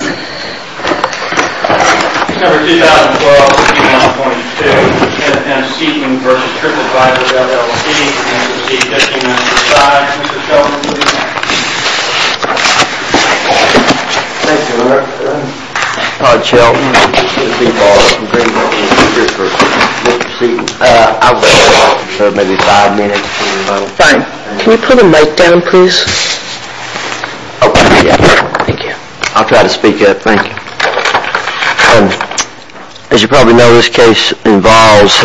Mr. Seaton, I would like to talk to you for maybe five minutes, if you don't mind. Fine. Can you put the mic down please? I'll try to speak up. Thank you. As you probably know, this case involves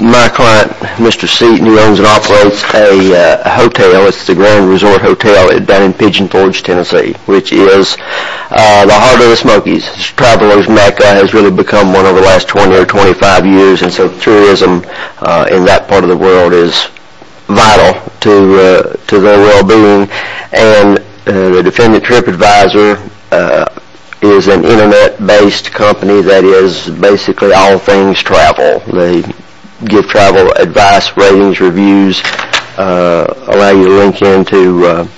my client, Mr. Seaton, who owns and operates a hotel. It's the Grand Resort Hotel down in Pigeon Forge, Tennessee, which is the heart of the Smokies. Travelers Mecca has really become one over the last 20 or 25 years, and so tourism in that part of the world is vital to their well-being. And the Defendant TripAdvisor is an internet-based company that is basically all things travel. They give travel advice, ratings, reviews, allow you to link in to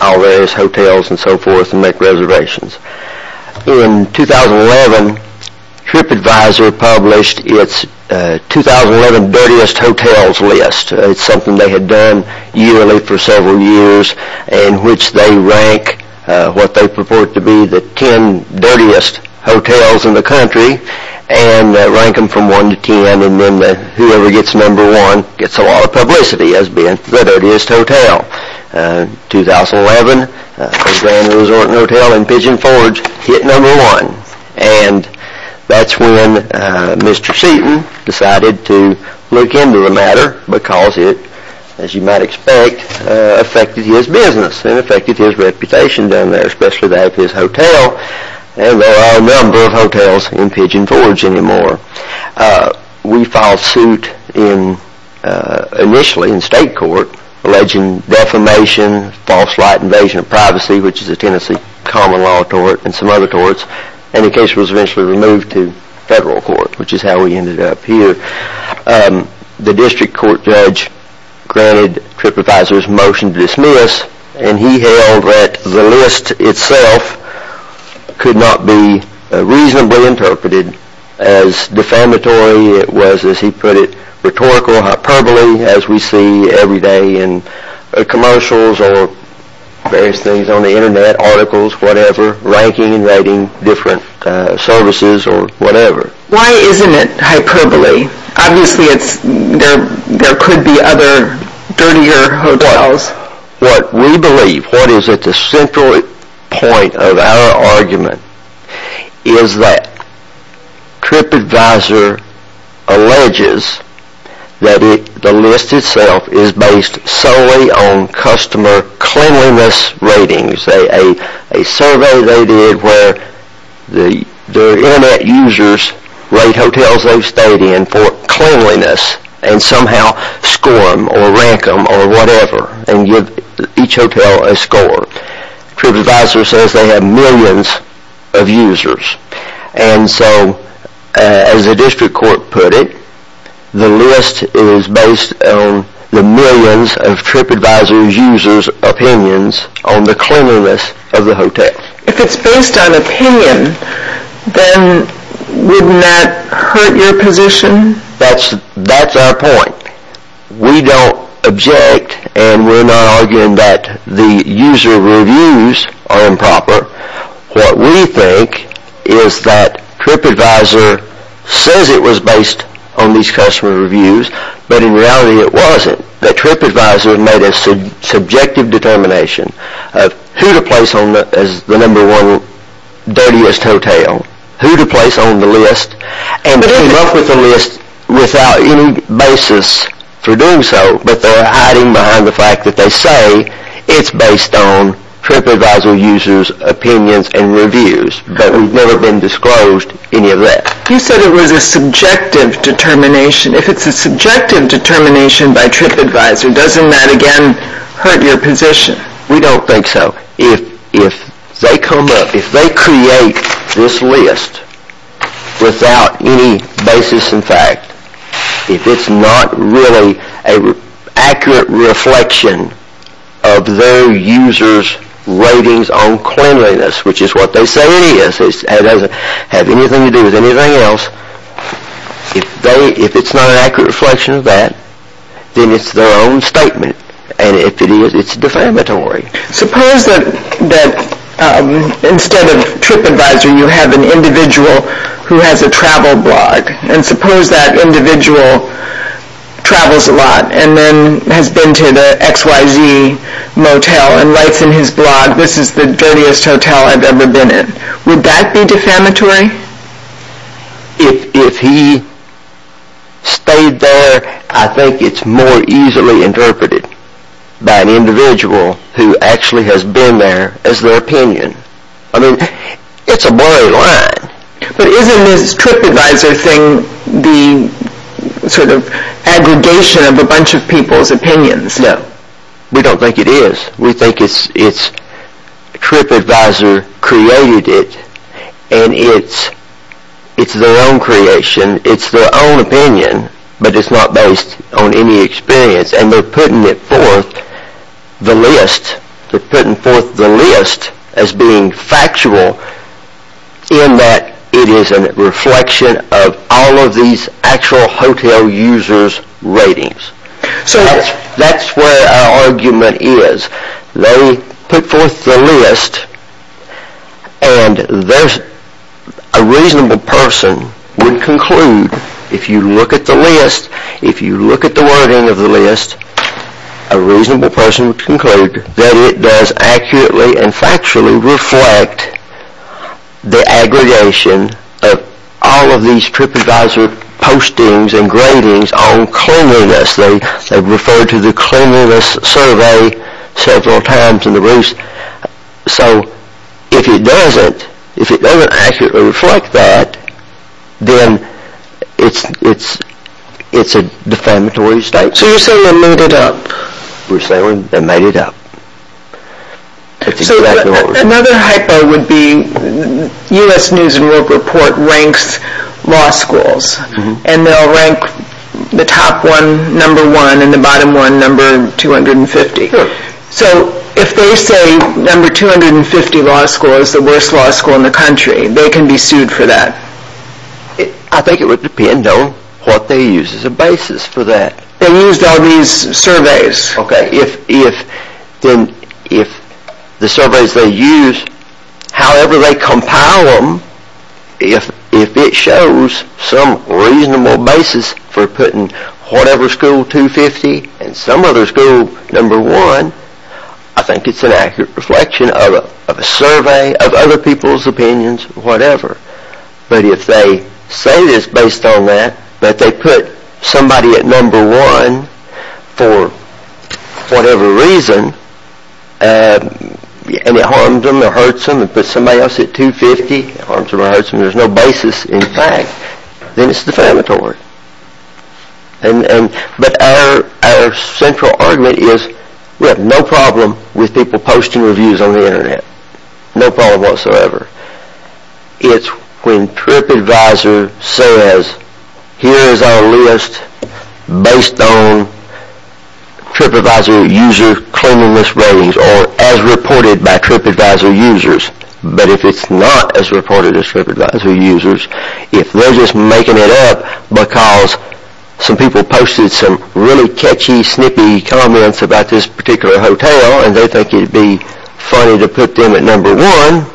all various hotels and so forth and make reservations. In 2011, TripAdvisor published its 2011 Dirtiest Hotels list. It's something they had done yearly for several years in which they rank what they purport to be the 10 dirtiest hotels in the country and rank them from one to ten, and then whoever gets number one gets a lot of publicity as being the dirtiest hotel. In 2011, the Grand Resort Hotel in Pigeon Forge hit number one, and that's when Mr. Seaton decided to look into the matter because it, as you might expect, affected his business and affected his reputation down there, especially that of his hotel. And there are a number of hotels in Pigeon Forge anymore. We filed suit initially in state court alleging defamation, false light invasion of privacy, which is a Tennessee common law tort and some other torts, and the case was eventually removed to federal court, which is how we ended up here. The district court judge granted TripAdvisor's motion to dismiss, and he held that the list itself could not be reasonably interpreted as defamatory. It was, as he put it, rhetorical hyperbole, as we see every day in commercials or various things on the Internet, articles, whatever, ranking and rating different services or whatever. Why isn't it hyperbole? Obviously, there could be other dirtier hotels. What we believe, what is at the central point of our argument, is that TripAdvisor alleges that the list itself is based solely on customer cleanliness ratings, a survey they did where their Internet users rate hotels they've stayed in for cleanliness and somehow score them or rank them or whatever and give each hotel a score. TripAdvisor says they have millions of users. And so, as the district court put it, the list is based on the millions of TripAdvisor users' opinions on the cleanliness of the hotel. If it's based on opinion, then wouldn't that hurt your position? That's our point. We don't object and we're not arguing that the user reviews are improper. What we think is that TripAdvisor says it was based on these customer reviews, but in reality it wasn't. That TripAdvisor made a subjective determination of who to place as the number one dirtiest hotel, who to place on the list, and came up with a list without any basis for doing so. But they're hiding behind the fact that they say it's based on TripAdvisor users' opinions and reviews. But we've never been disclosed any of that. You said it was a subjective determination. If it's a subjective determination by TripAdvisor, doesn't that again hurt your position? We don't think so. If they come up, if they create this list without any basis in fact, if it's not really an accurate reflection of their users' ratings on cleanliness, which is what they say it is, it doesn't have anything to do with anything else, if it's not an accurate reflection of that, then it's their own statement. And if it is, it's defamatory. Suppose that instead of TripAdvisor you have an individual who has a travel blog. And suppose that individual travels a lot and then has been to the XYZ Motel and writes in his blog, this is the dirtiest hotel I've ever been in. Would that be defamatory? If he stayed there, I think it's more easily interpreted by an individual who actually has been there as their opinion. I mean, it's a blurry line. But isn't this TripAdvisor thing the sort of aggregation of a bunch of people's opinions? No, we don't think it is. We think it's TripAdvisor created it and it's their own creation. It's their own opinion, but it's not based on any experience. And they're putting it forth, the list, they're putting forth the list as being factual in that it is a reflection of all of these actual hotel users' ratings. That's where our argument is. They put forth the list and a reasonable person would conclude, if you look at the list, if you look at the wording of the list, a reasonable person would conclude that it does accurately and factually reflect the aggregation of all of these TripAdvisor postings and gradings on cleanliness. They've referred to the cleanliness survey several times in the roost. So if it doesn't, if it doesn't accurately reflect that, then it's a defamatory statement. So you're saying they made it up? We're saying they made it up. So another hypo would be U.S. News & World Report ranks law schools and they'll rank the top one number one and the bottom one number 250. So if they say number 250 law school is the worst law school in the country, they can be sued for that? I think it would depend on what they use as a basis for that. They used all these surveys. Okay, if the surveys they use, however they compile them, if it shows some reasonable basis for putting whatever school 250 and some other school number one, I think it's an accurate reflection of a survey, of other people's opinions, whatever. But if they say this based on that, that they put somebody at number one for whatever reason and it harms them or hurts them and put somebody else at 250, it harms them or hurts them, there's no basis in fact, then it's defamatory. But our central argument is we have no problem with people posting reviews on the Internet. No problem whatsoever. It's when TripAdvisor says, here is our list based on TripAdvisor user claiming list ratings or as reported by TripAdvisor users. But if it's not as reported as TripAdvisor users, if they're just making it up because some people posted some really catchy, snippy comments about this particular hotel and they think it would be funny to put them at number one,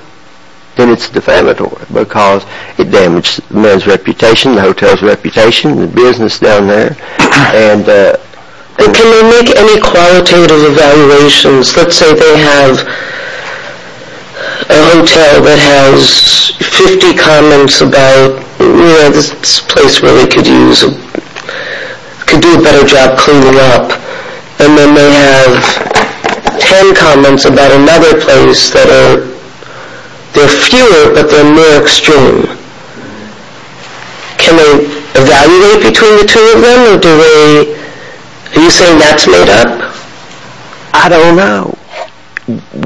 then it's defamatory because it damages the man's reputation, the hotel's reputation, the business down there. Can they make any qualitative evaluations? Let's say they have a hotel that has 50 comments about, you know, this place really could do a better job cleaning up and then they have 10 comments about another place that are, they're fewer but they're more extreme. Can they evaluate between the two of them or do they, are you saying that's made up? I don't know.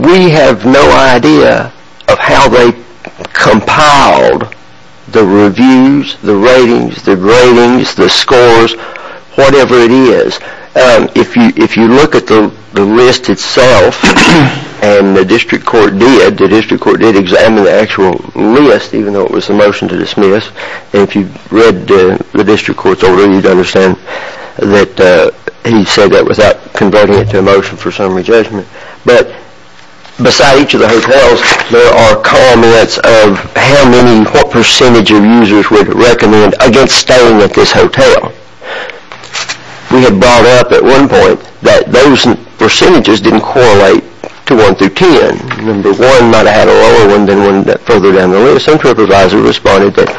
We have no idea of how they compiled the reviews, the ratings, the ratings, the scores, whatever it is. If you look at the list itself and the district court did, the district court did examine the actual list even though it was a motion to dismiss and if you read the district court's order, you'd understand that he said that without converting it to a motion for summary judgment. But beside each of the hotels, there are comments of how many, what percentage of users would recommend against staying at this hotel. We had brought up at one point that those percentages didn't correlate to one through ten. Number one might have had a lower one than one further down the list. Some supervisors responded that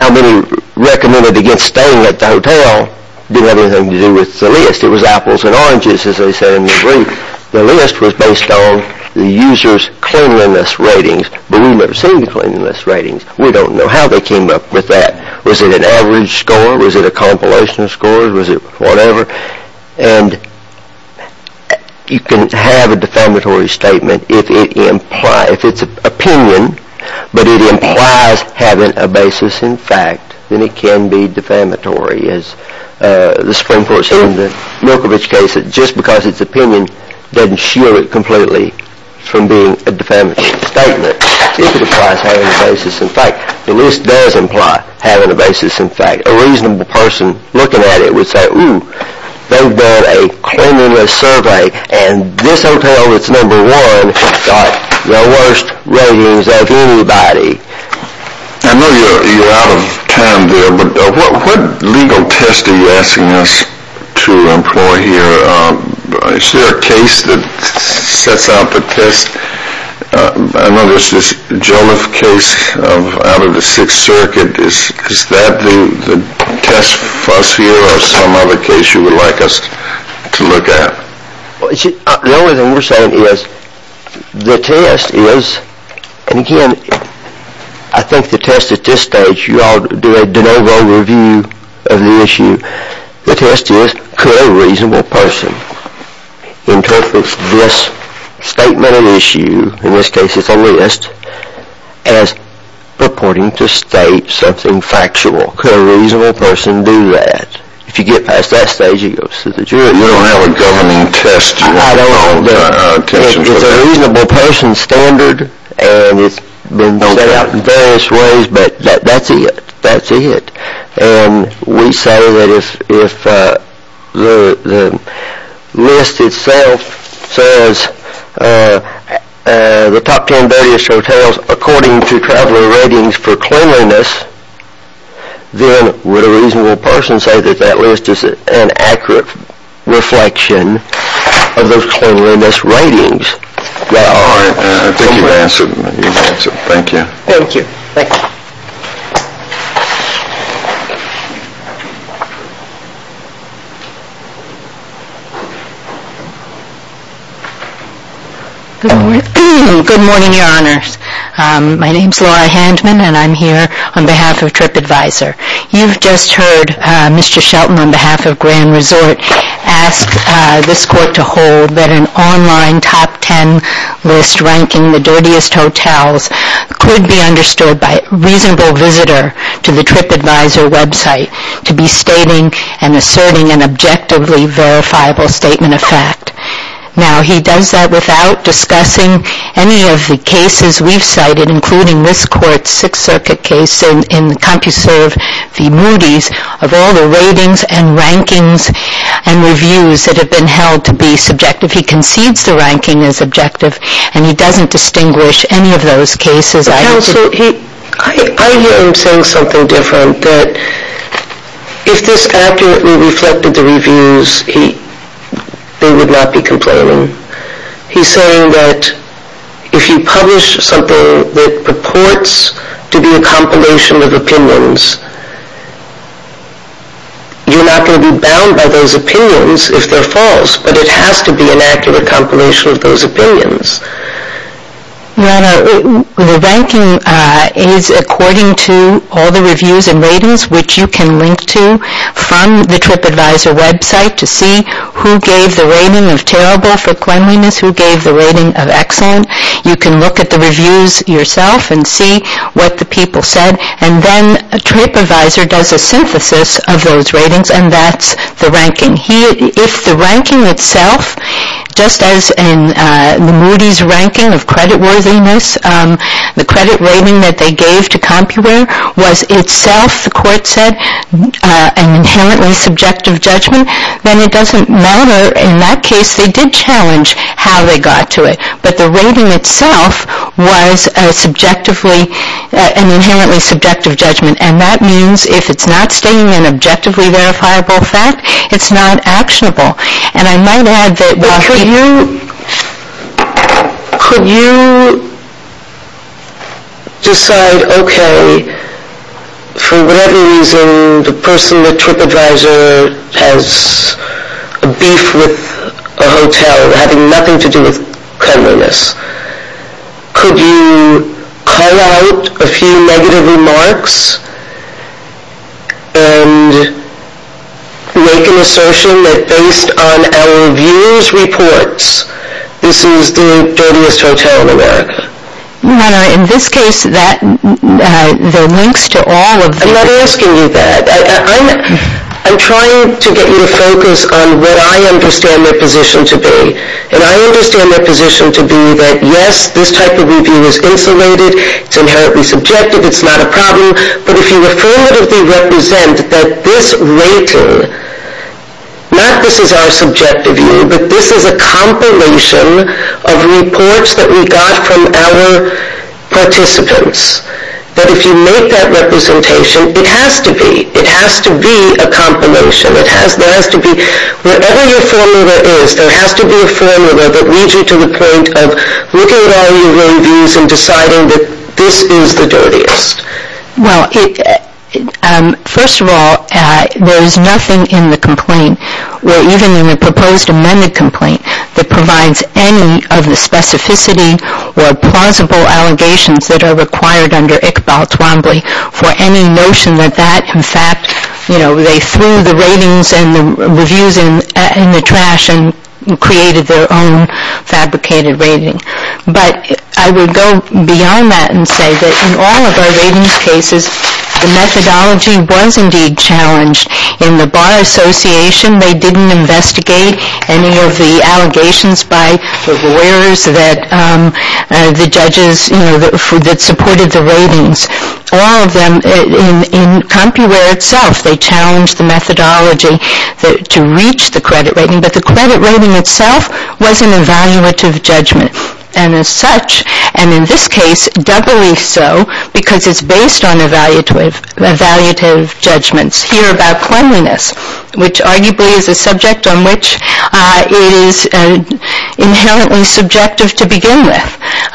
how many recommended against staying at the hotel didn't have anything to do with the list. It was apples and oranges as they said in the brief. The list was based on the user's cleanliness ratings but we've never seen cleanliness ratings. We don't know how they came up with that. Was it an average score? Was it a compilation of scores? Was it whatever? And you can have a defamatory statement if it's opinion but it implies having a basis in fact, then it can be defamatory as the Supreme Court said in the Milkovich case that just because it's opinion doesn't shield it completely from being a defamatory statement if it implies having a basis in fact. The list does imply having a basis in fact. A reasonable person looking at it would say, ooh, they've done a cleanliness survey and this hotel that's number one got the worst ratings of anybody. I know you're out of time there but what legal test are you asking us to employ here? Is there a case that sets out the test? I know there's this Joliffe case out of the Sixth Circuit. Is that the test for us here or is there some other case you would like us to look at? The only thing we're saying is the test is, and again I think the test at this stage, you all do a de novo review of the issue, the test is could a reasonable person interpret this statement of issue, in this case it's a list, as purporting to state something factual. Could a reasonable person do that? If you get past that stage you go to the jury. You don't have a governing test? I don't. It's a reasonable person standard and it's been set out in various ways but that's it, that's it. We say that if the list itself says the top ten dirtiest hotels according to traveler ratings for cleanliness, then would a reasonable person say that that list is an accurate reflection of those cleanliness ratings? I think you've answered. Thank you. Thank you. Thank you. Good morning, your honors. My name is Laura Handman and I'm here on behalf of TripAdvisor. You've just heard Mr. Shelton on behalf of Grand Resort ask this court to hold that an online top ten list ranking the dirtiest hotels could be understood by a reasonable visitor to the TripAdvisor website to be stating and asserting an objectively verifiable statement of fact. Now he does that without discussing any of the cases we've cited including this court's Sixth Circuit case in CompuServe v. Moody's of all the ratings and rankings and reviews that have been held to be subjective. He concedes the ranking is objective and he doesn't distinguish any of those cases. I hear him saying something different that if this accurately reflected the reviews they would not be complaining. He's saying that if you publish something that purports to be a compilation of opinions you're not going to be bound by those opinions if they're false but it has to be an accurate compilation of those opinions. Your Honor, the ranking is according to all the reviews and ratings which you can link to from the TripAdvisor website to see who gave the rating of terrible for cleanliness who gave the rating of excellent. You can look at the reviews yourself and see what the people said and then TripAdvisor does a synthesis of those ratings and that's the ranking. If the ranking itself just as in the Moody's ranking of creditworthiness the credit rating that they gave to CompuWear was itself, the court said an inherently subjective judgment then it doesn't matter in that case they did challenge how they got to it but the rating itself was an inherently subjective judgment and that means if it's not stating an objectively verifiable fact it's not actionable. And I might add that... But could you... Could you... decide, okay for whatever reason the person with TripAdvisor has a beef with a hotel having nothing to do with cleanliness. Could you call out a few negative remarks and make an assertion that based on our reviews reports this is the dirtiest hotel in America? No, no, in this case that, the links to all of the... I'm not asking you that. I'm trying to get you to focus on what I understand their position to be and I understand their position to be that yes, this type of review is insulated it's inherently subjective it's not a problem but if you affirmatively represent that this rating not this is our subjective view but this is a compilation of reports that we got from our participants that if you make that representation it has to be it has to be a compilation it has, there has to be whatever your formula is there has to be a formula that leads you to the point of looking at all your reviews and deciding that this is the dirtiest. Well, first of all there is nothing in the complaint or even in the proposed amended complaint that provides any of the specificity or plausible allegations that are required under Iqbal Twombly for any notion that that in fact you know, they threw the ratings and the reviews in the trash and created their own fabricated rating. But I would go beyond that and say that in all of our ratings cases the methodology was indeed challenged. In the Bar Association they didn't investigate any of the allegations by the lawyers that the judges that supported the ratings. All of them in CompuWear itself they challenged the methodology to reach the credit rating but the credit rating itself was an evaluative judgment and as such and in this case doubly so because it's based on evaluative judgments here about cleanliness which arguably is a subject on which it is inherently subjective to begin with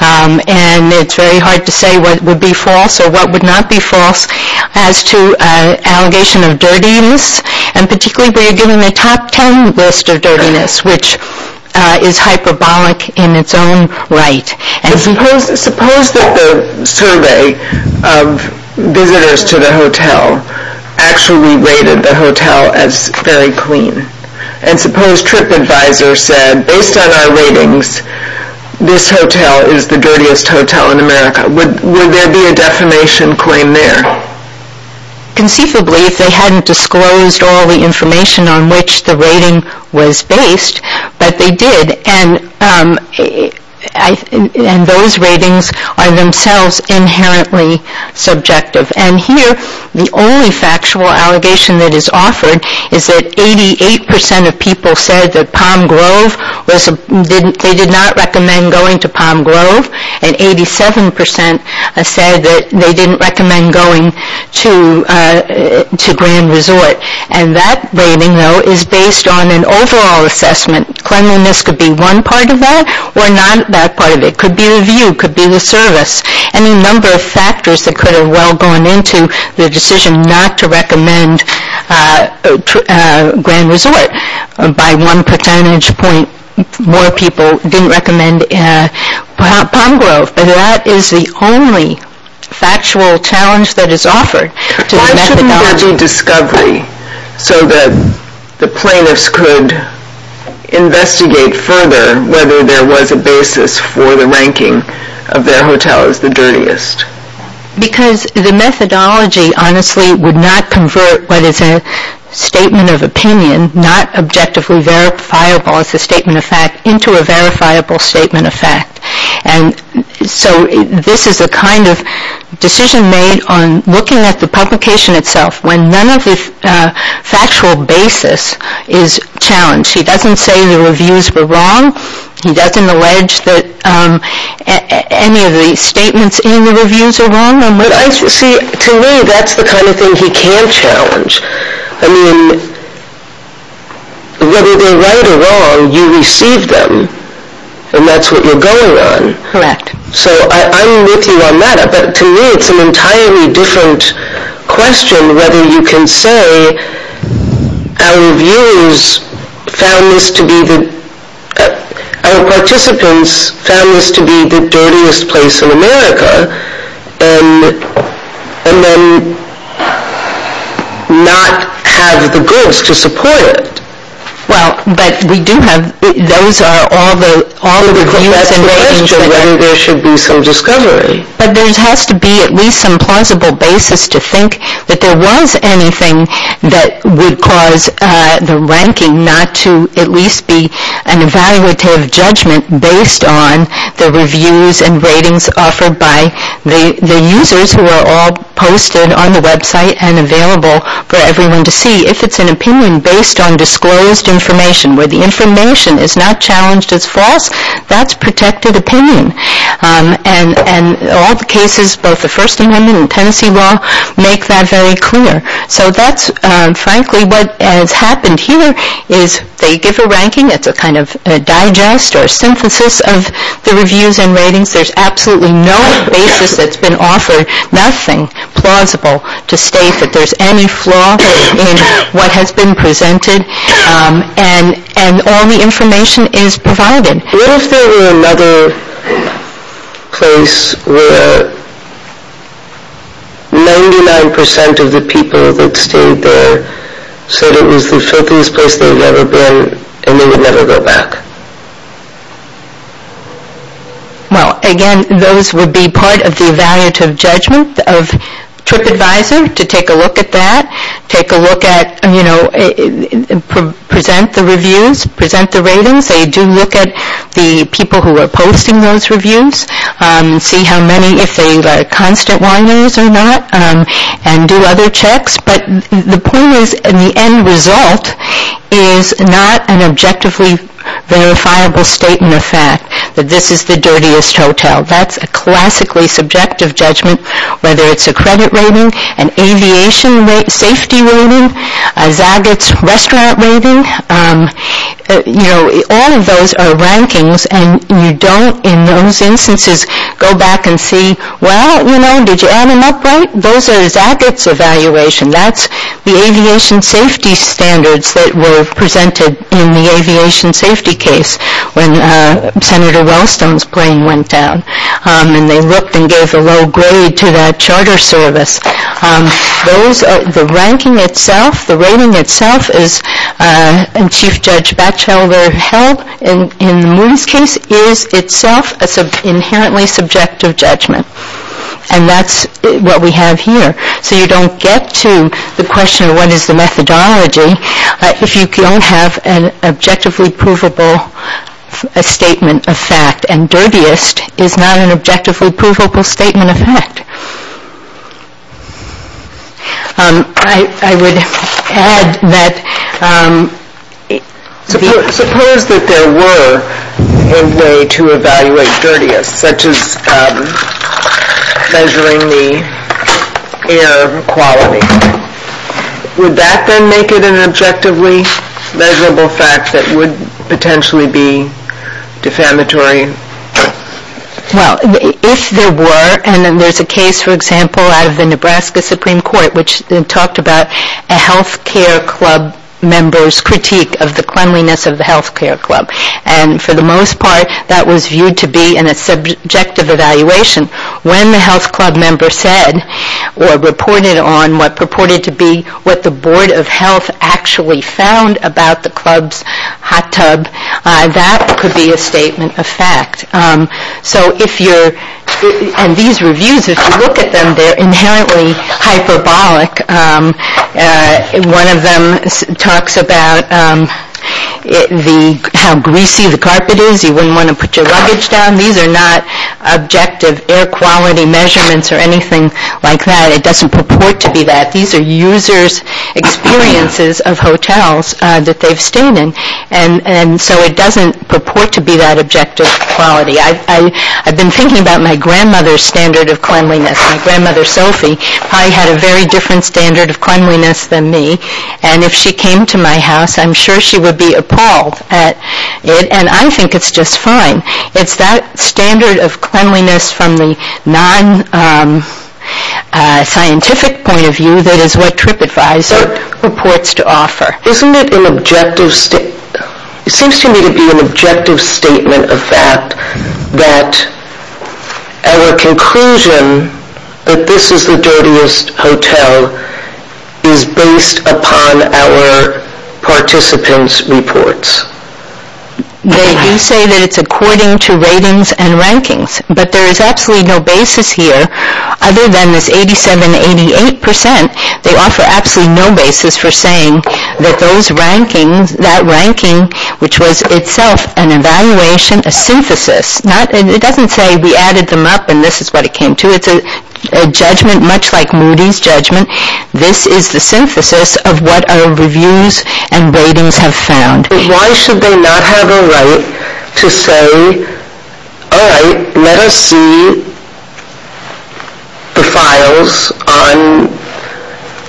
and it's very hard to say what would be false or what would not be false as to an allegation of dirtiness and particularly we are given a top ten list of dirtiness which is hyperbolic in its own right Suppose that the survey of visitors to the hotel actually rated the hotel as very clean and suppose TripAdvisor said based on our ratings this hotel is the dirtiest hotel in America would there be a defamation claim there? Conceivably if they hadn't disclosed all the information on which the rating was based but they did and those ratings are themselves inherently subjective and here the only factual allegation that is offered is that 88% of people said that Palm Grove they did not recommend going to Palm Grove and 87% said that they didn't recommend going to Grand Resort and that rating though is based on an overall assessment cleanliness could be one part of that or not that part of it could be the view could be the service any number of factors that could have well gone into the decision not to recommend Grand Resort by one percentage point more people didn't recommend Palm Grove but that is the only factual challenge that is offered Why shouldn't there be discovery so that the plaintiffs could investigate further whether there was a basis for the ranking of their hotel as the dirtiest Because the methodology honestly would not convert what is a statement of opinion not objectively verifiable as a statement of fact into a verifiable statement of fact and so this is a kind of decision made on looking at the publication itself when none of the factual basis is challenged he doesn't say the reviews were wrong he doesn't allege that any of the statements in the reviews are wrong See to me that's the kind of thing he can challenge I mean whether they're right or wrong you receive them and that's what you're going on so I'm with you on that but to me it's an entirely different question whether you can say our reviewers found this to be our participants found this to be the dirtiest place in America and then not have the goods to support it Well but we do have those are all the reviews That's the question whether there should be some discovery But there has to be at least some plausible basis to think that there was anything that would cause the ranking not to at least be an evaluative judgment based on the reviews and ratings offered by the users who are all posted on the website and available for everyone to see if it's an opinion based on disclosed information where the information is not challenged as false that's protected opinion and all the cases both the First Amendment and Tennessee law make that very clear so that's frankly what has happened here is they give a ranking it's a kind of digest or synthesis of the reviews and ratings there's absolutely no basis that's been offered nothing plausible to state that there's any flaw in what has been presented and all the information is provided What if there were another place where 99% of the people that stayed there said it was the filthiest place they've ever been and they would never go back? Well again those would be part of the evaluative judgment of TripAdvisor to take a look at that take a look at you know present the reviews present the ratings they do look at the people who are posting those reviews see how many if they're constant whiners or not and do other checks but the point is the end result is not an objectively verifiable statement of fact that this is the dirtiest hotel that's a classically subjective judgment whether it's a credit rating an aviation safety rating a Zagat's restaurant rating you know all of those are rankings and you don't in those instances go back and see well you know did you add an upright? Those are Zagat's evaluation that's the aviation safety standards that were presented in the aviation safety case when Senator Wellstone's brain went down and they looked and gave a low grade to that charter service those are the ranking itself the rating itself is and Chief Judge Batchelder held in the Moody's case is itself inherently subjective judgment and that's what we have here so you don't get to the question what is the methodology if you don't have an objectively provable statement of fact and dirtiest is not an objectively provable statement of fact I would add that suppose that there were a way to evaluate dirtiest such as measuring the air quality would that then make it an objectively measurable fact that would potentially be defamatory well if there were and there's a case for example out of the Nebraska Supreme Court which talked about a health care club member's critique of the cleanliness of the health care club and for the most part that was viewed to be in a subjective evaluation when the health club member said or reported on what purported to be what the board of health actually found about the club's hot tub that could be a statement of fact so if you're and these reviews if you look at them they're inherently hyperbolic one of them talks about how greasy the carpet is you wouldn't want to put your luggage down these are not objective air quality measurements or anything like that it doesn't purport to be that these are users' experiences of hotels that they've stayed in and so it doesn't purport to be that objective quality I've been thinking about my grandmother's standard of cleanliness my grandmother Sophie probably had a very different standard of cleanliness than me and if she came to my house I'm sure she would be appalled at it and I think it's just fine it's that standard of cleanliness from the non-scientific point of view that is what TripAdvisor purports to offer isn't it an objective it seems to me to be an objective statement of fact that our conclusion that this is the dirtiest hotel is based upon our participants' reports they do say that it's according to ratings and rankings but there is absolutely no basis here other than this 87-88% they offer absolutely no basis for saying that those rankings that ranking which was itself an evaluation a synthesis it doesn't say we added them up and this is what it came to it's a judgment much like Moody's judgment this is the synthesis of what our reviews and ratings have found why should they not have a right to say all right let us see the files on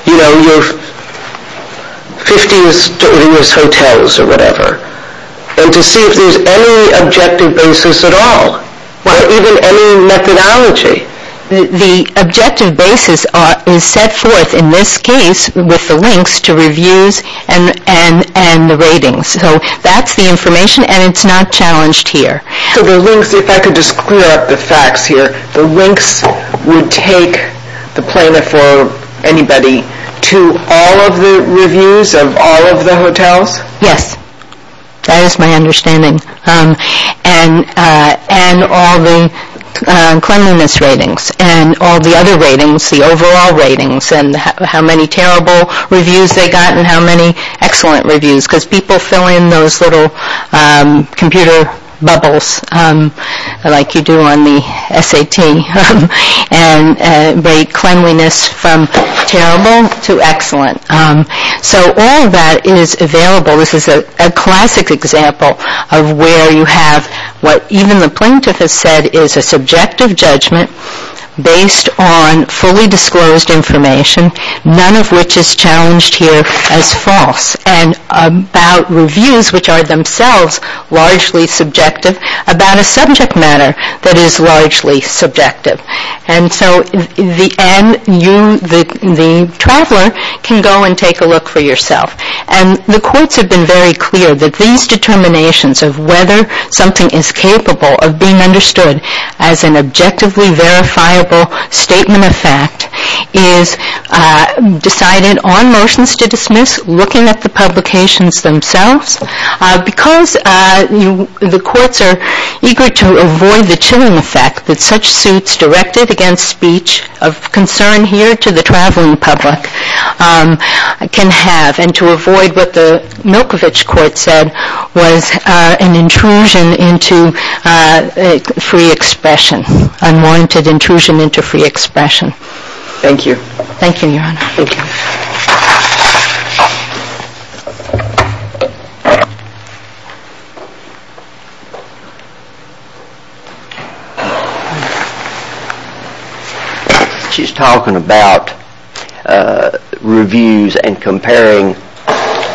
you know your 50's dirtiest hotels or whatever and to see if there's any objective basis at all or even any methodology the objective basis is set forth in this case with the ratings so that's the information and it's not challenged here so the links if I could just clear up the facts here the links would take the planner for anybody to all of the reviews of all of the hotels yes that is my understanding and all the cleanliness ratings and all the other ratings the overall ratings and how many terrible reviews they got and how many excellent reviews because people fill in those little computer bubbles like you do on the SAT and the cleanliness from terrible to excellent so all that is available this is a classic example of where you have what even the plaintiff has said is a subjective judgment based on fully disclosed information none of which is challenged here as false and about reviews which are themselves largely subjective about a subject matter that is largely the plaintiff has been very clear that these determinations of whether something is capable of being understood as an objectively verifiable statement of fact is decided on motions to dismiss looking at the publications themselves because the courts are eager to avoid the chilling effect that such suits directed against speech of concern here to the traveling public can have and to avoid what the Milkovich court said was an intrusion into free expression unwarranted intrusion into free expression thank you thank you your honor she's talking about reviews and comparing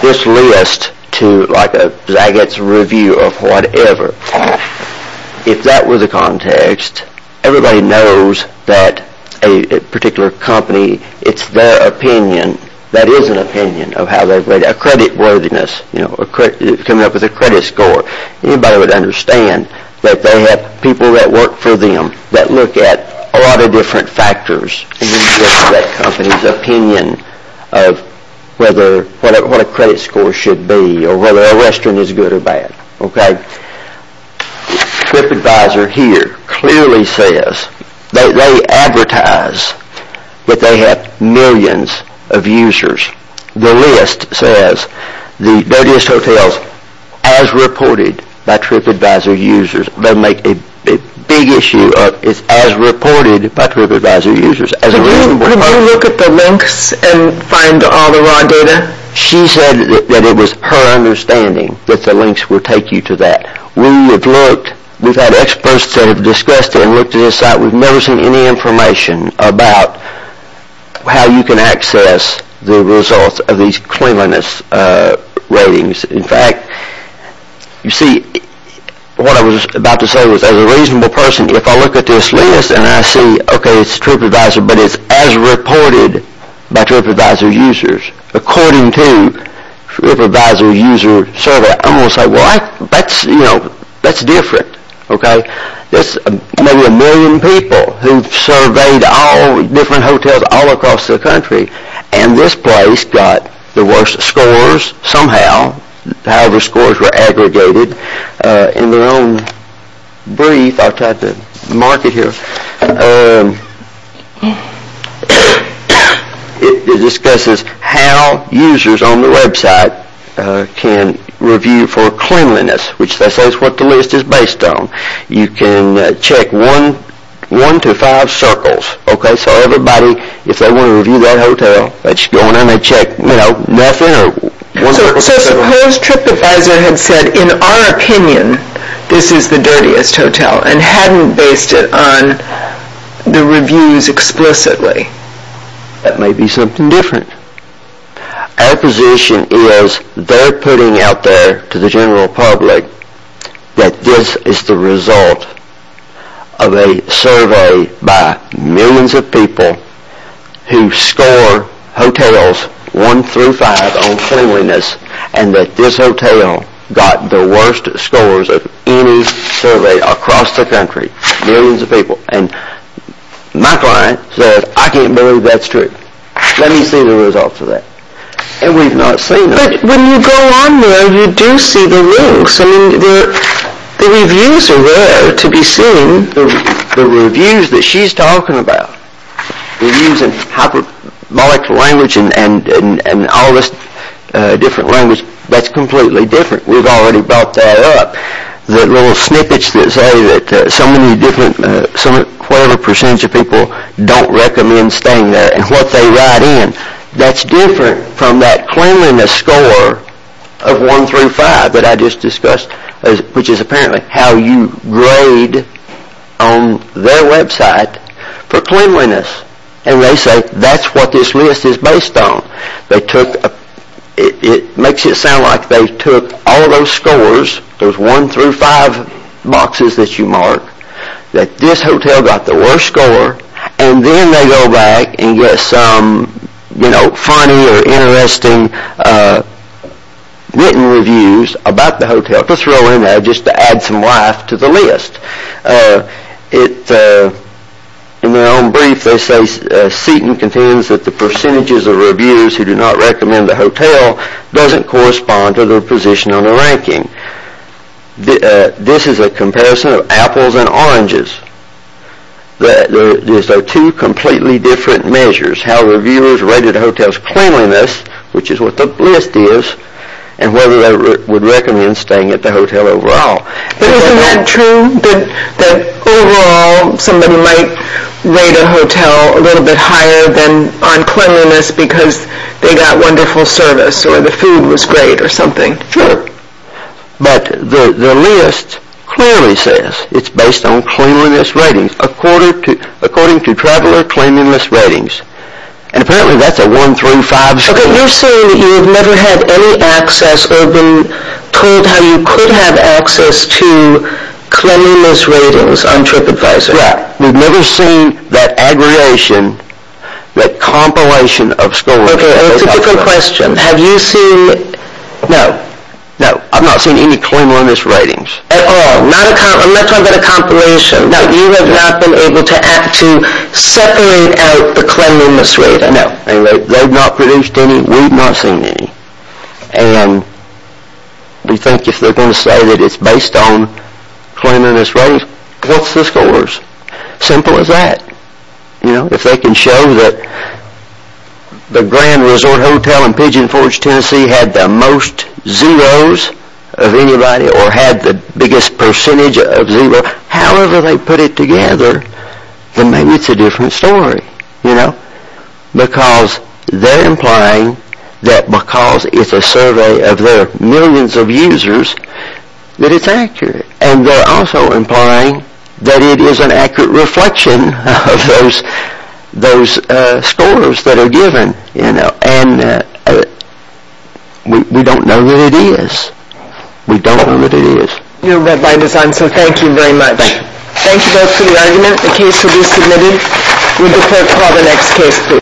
this list to like a Zagat's review of whatever if that was the context everybody knows that a particular company it's their opinion that is an opinion of how credit worthiness coming up with a credit score anybody would understand that they have people that work for them that look at a lot of different factors of whether what a credit score should be or whether a restaurant is good or bad trip advisor here clearly says they are to trip restaurant and they are not going to be a bad trip to a restaurant and they are not going they are not going to be a bad trip to a restaurant and they are not going to be a